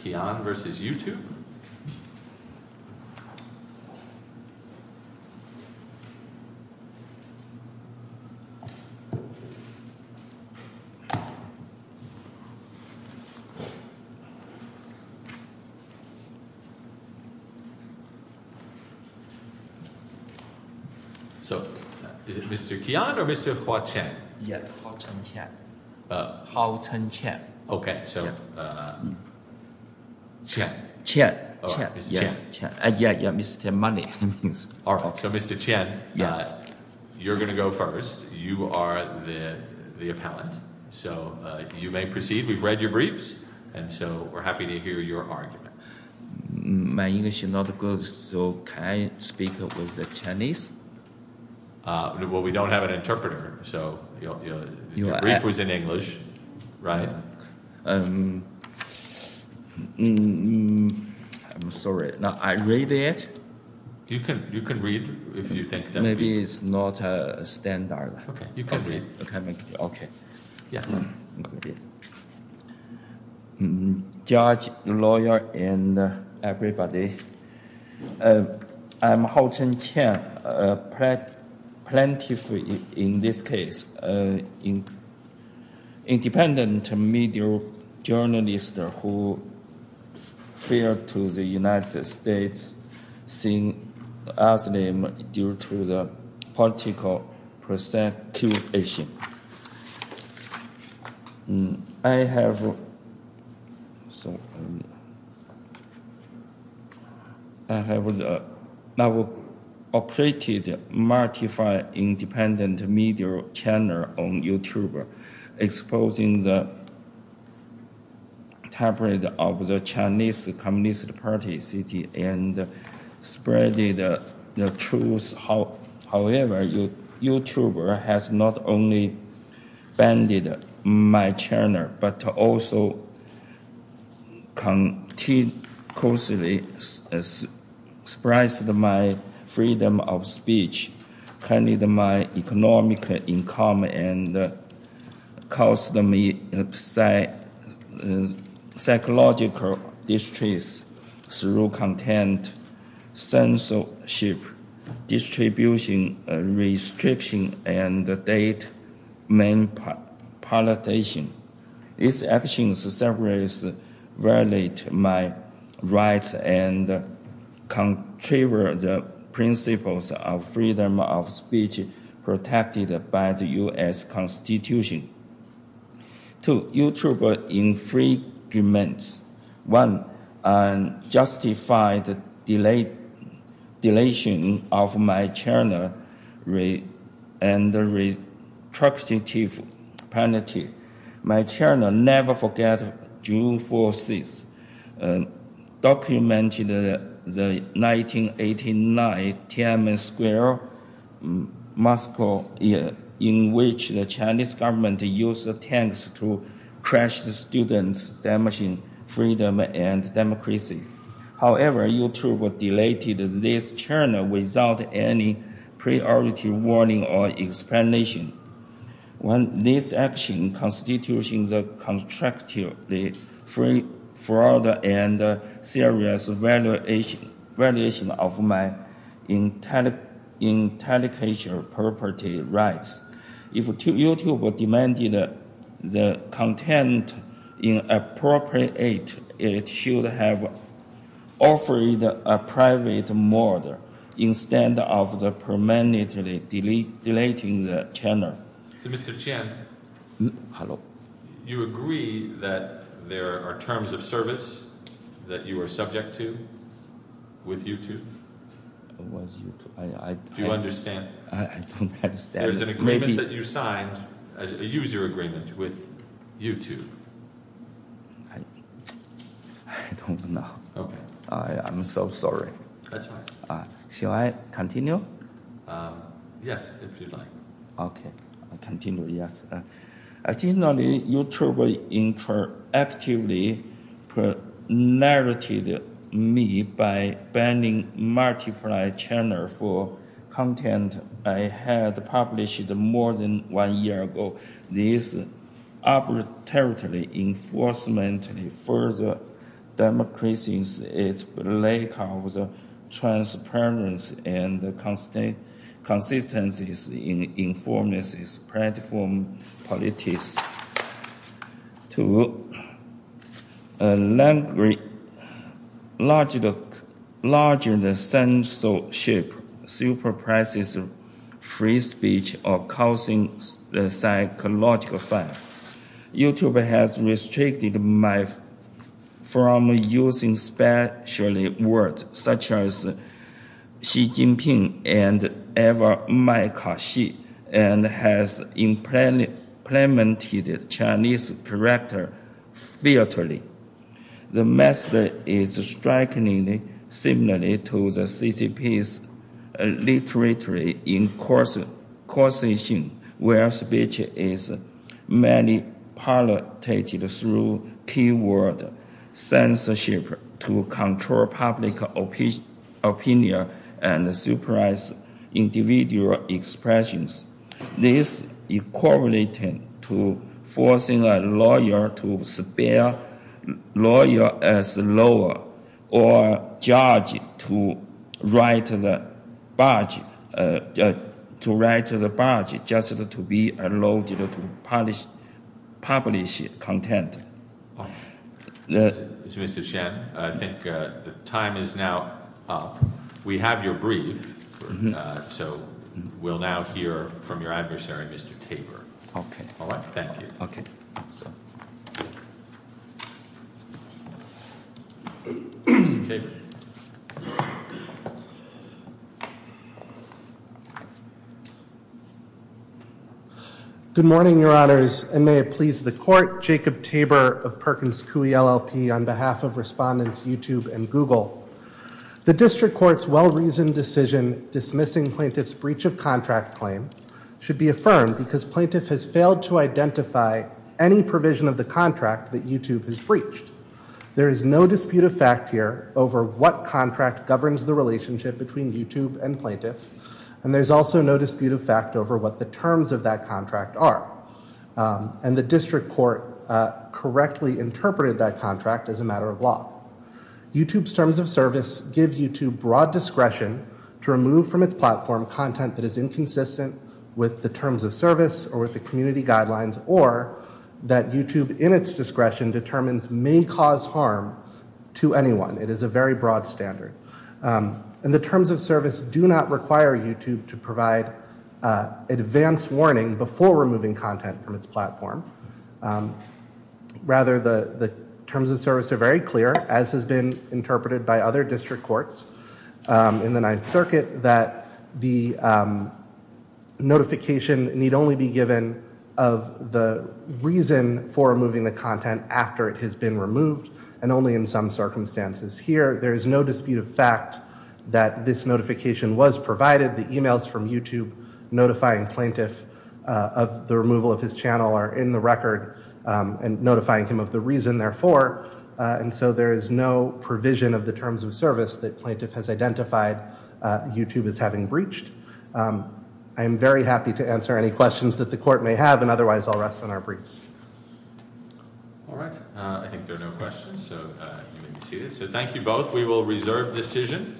Kian v. YouTube So, is it Mr. Kian or Mr. Hoa-Chen? Yes, Hoa-Chen. Hoa-Chen Kian. Hoa-Chen Kian. Okay, so... Kian. Kian. Kian. Yes. Mr. Kian. Yeah, Mr. Money. So, Mr. Kian, you're going to go first. You are the appellant. So, you may proceed. We've read your briefs, and so we're happy to hear your argument. My English is not good, so can I speak with the Chinese? Well, we don't have an interpreter, so... Your brief was in English, right? I'm sorry. Now, I read it? You can read if you think that... Maybe it's not standard. Okay, you can read. Okay. Yes. Judge, lawyer, and everybody, I'm Hoa-Chen Kian. I'm a plaintiff in this case. Independent media journalist who failed to the United States seeing Islam due to the political persecution. I have... So... I have operated multiple independent media channels on YouTube, exposing the tabloids of the Chinese Communist Party city and spreading the truth. However, YouTube has not only banned my channel, but also continuously suppressed my freedom of speech, curtailed my economic income, and caused me psychological distress through content censorship, distribution restriction, and data manipulation. These actions have violated my rights and contravened the principles of freedom of speech protected by the U.S. Constitution. Two, YouTube infringements. One, unjustified deletion of my channel and restrictive penalty. My channel never forget June 4th, 6th, documented the 1989 Tiananmen Square massacre in which the Chinese government used tanks to crush the students, damaging freedom and democracy. However, YouTube deleted this channel without any priority warning or explanation. When this action constitutes a constructive fraud and serious violation of my intellectual property rights, if YouTube demanded the content inappropriate, it should have offered a private murder instead of permanently deleting the channel. Mr. Chen, you agree that there are terms of service that you are subject to with YouTube? What is YouTube? Do you understand? I don't understand. There's an agreement that you signed, a user agreement with YouTube. I don't know. Okay. I'm so sorry. That's fine. Shall I continue? Yes, if you'd like. Okay, I'll continue, yes. Originally, YouTube interactively pre-narrated me by banning multiple channels for content I had published more than one year ago. This arbitrarily, enforcement of further democracy is a lack of transparency and consistency in information platform politics. To a larger censorship, superpresses free speech or causing psychological harm. YouTube has restricted me from using special words such as Xi Jinping and Mike Hsieh and has implemented Chinese character theatrically. The method is strikingly similar to the CCP's literary incursion where speech is manipulated through keyword censorship to control public opinion and the supervised individual expressions. This is correlated to forcing a lawyer to spare lawyers as lower or judge to write the budget just to be allowed to publish content. Mr. Shen, I think the time is now up. We have your brief, so we'll now hear from your adversary, Mr. Tabor. Okay. All right, thank you. Okay. Mr. Tabor. Good morning, your honors, and may it please the court, Jacob Tabor of Perkins Coie LLP on behalf of respondents YouTube and Google. The district court's well-reasoned decision dismissing plaintiff's breach of contract claim should be affirmed because plaintiff has failed to identify any provision of the contract that YouTube has breached. There is no dispute of fact here over what contract governs the relationship between YouTube and plaintiff, and there's also no dispute of fact over what the terms of that contract are, and the district court correctly interpreted that contract as a matter of law. YouTube's terms of service give YouTube broad discretion to remove from its platform content that is inconsistent with the terms of service or with the community guidelines, or that YouTube, in its discretion, determines may cause harm to anyone. It is a very broad standard. And the terms of service do not require YouTube to provide advance warning before removing content from its platform. Rather, the terms of service are very clear, as has been interpreted by other district courts in the Ninth Circuit, that the notification need only be given of the reason for removing the content after it has been removed, and only in some circumstances. Here, there is no dispute of fact that this notification was provided. The e-mails from YouTube notifying plaintiff of the removal of his channel are in the record and notifying him of the reason, therefore. And so there is no provision of the terms of service that plaintiff has identified YouTube as having breached. I am very happy to answer any questions that the court may have, and otherwise I'll rest on our briefs. All right, I think there are no questions, so you may be seated. So thank you both. We will reserve decision.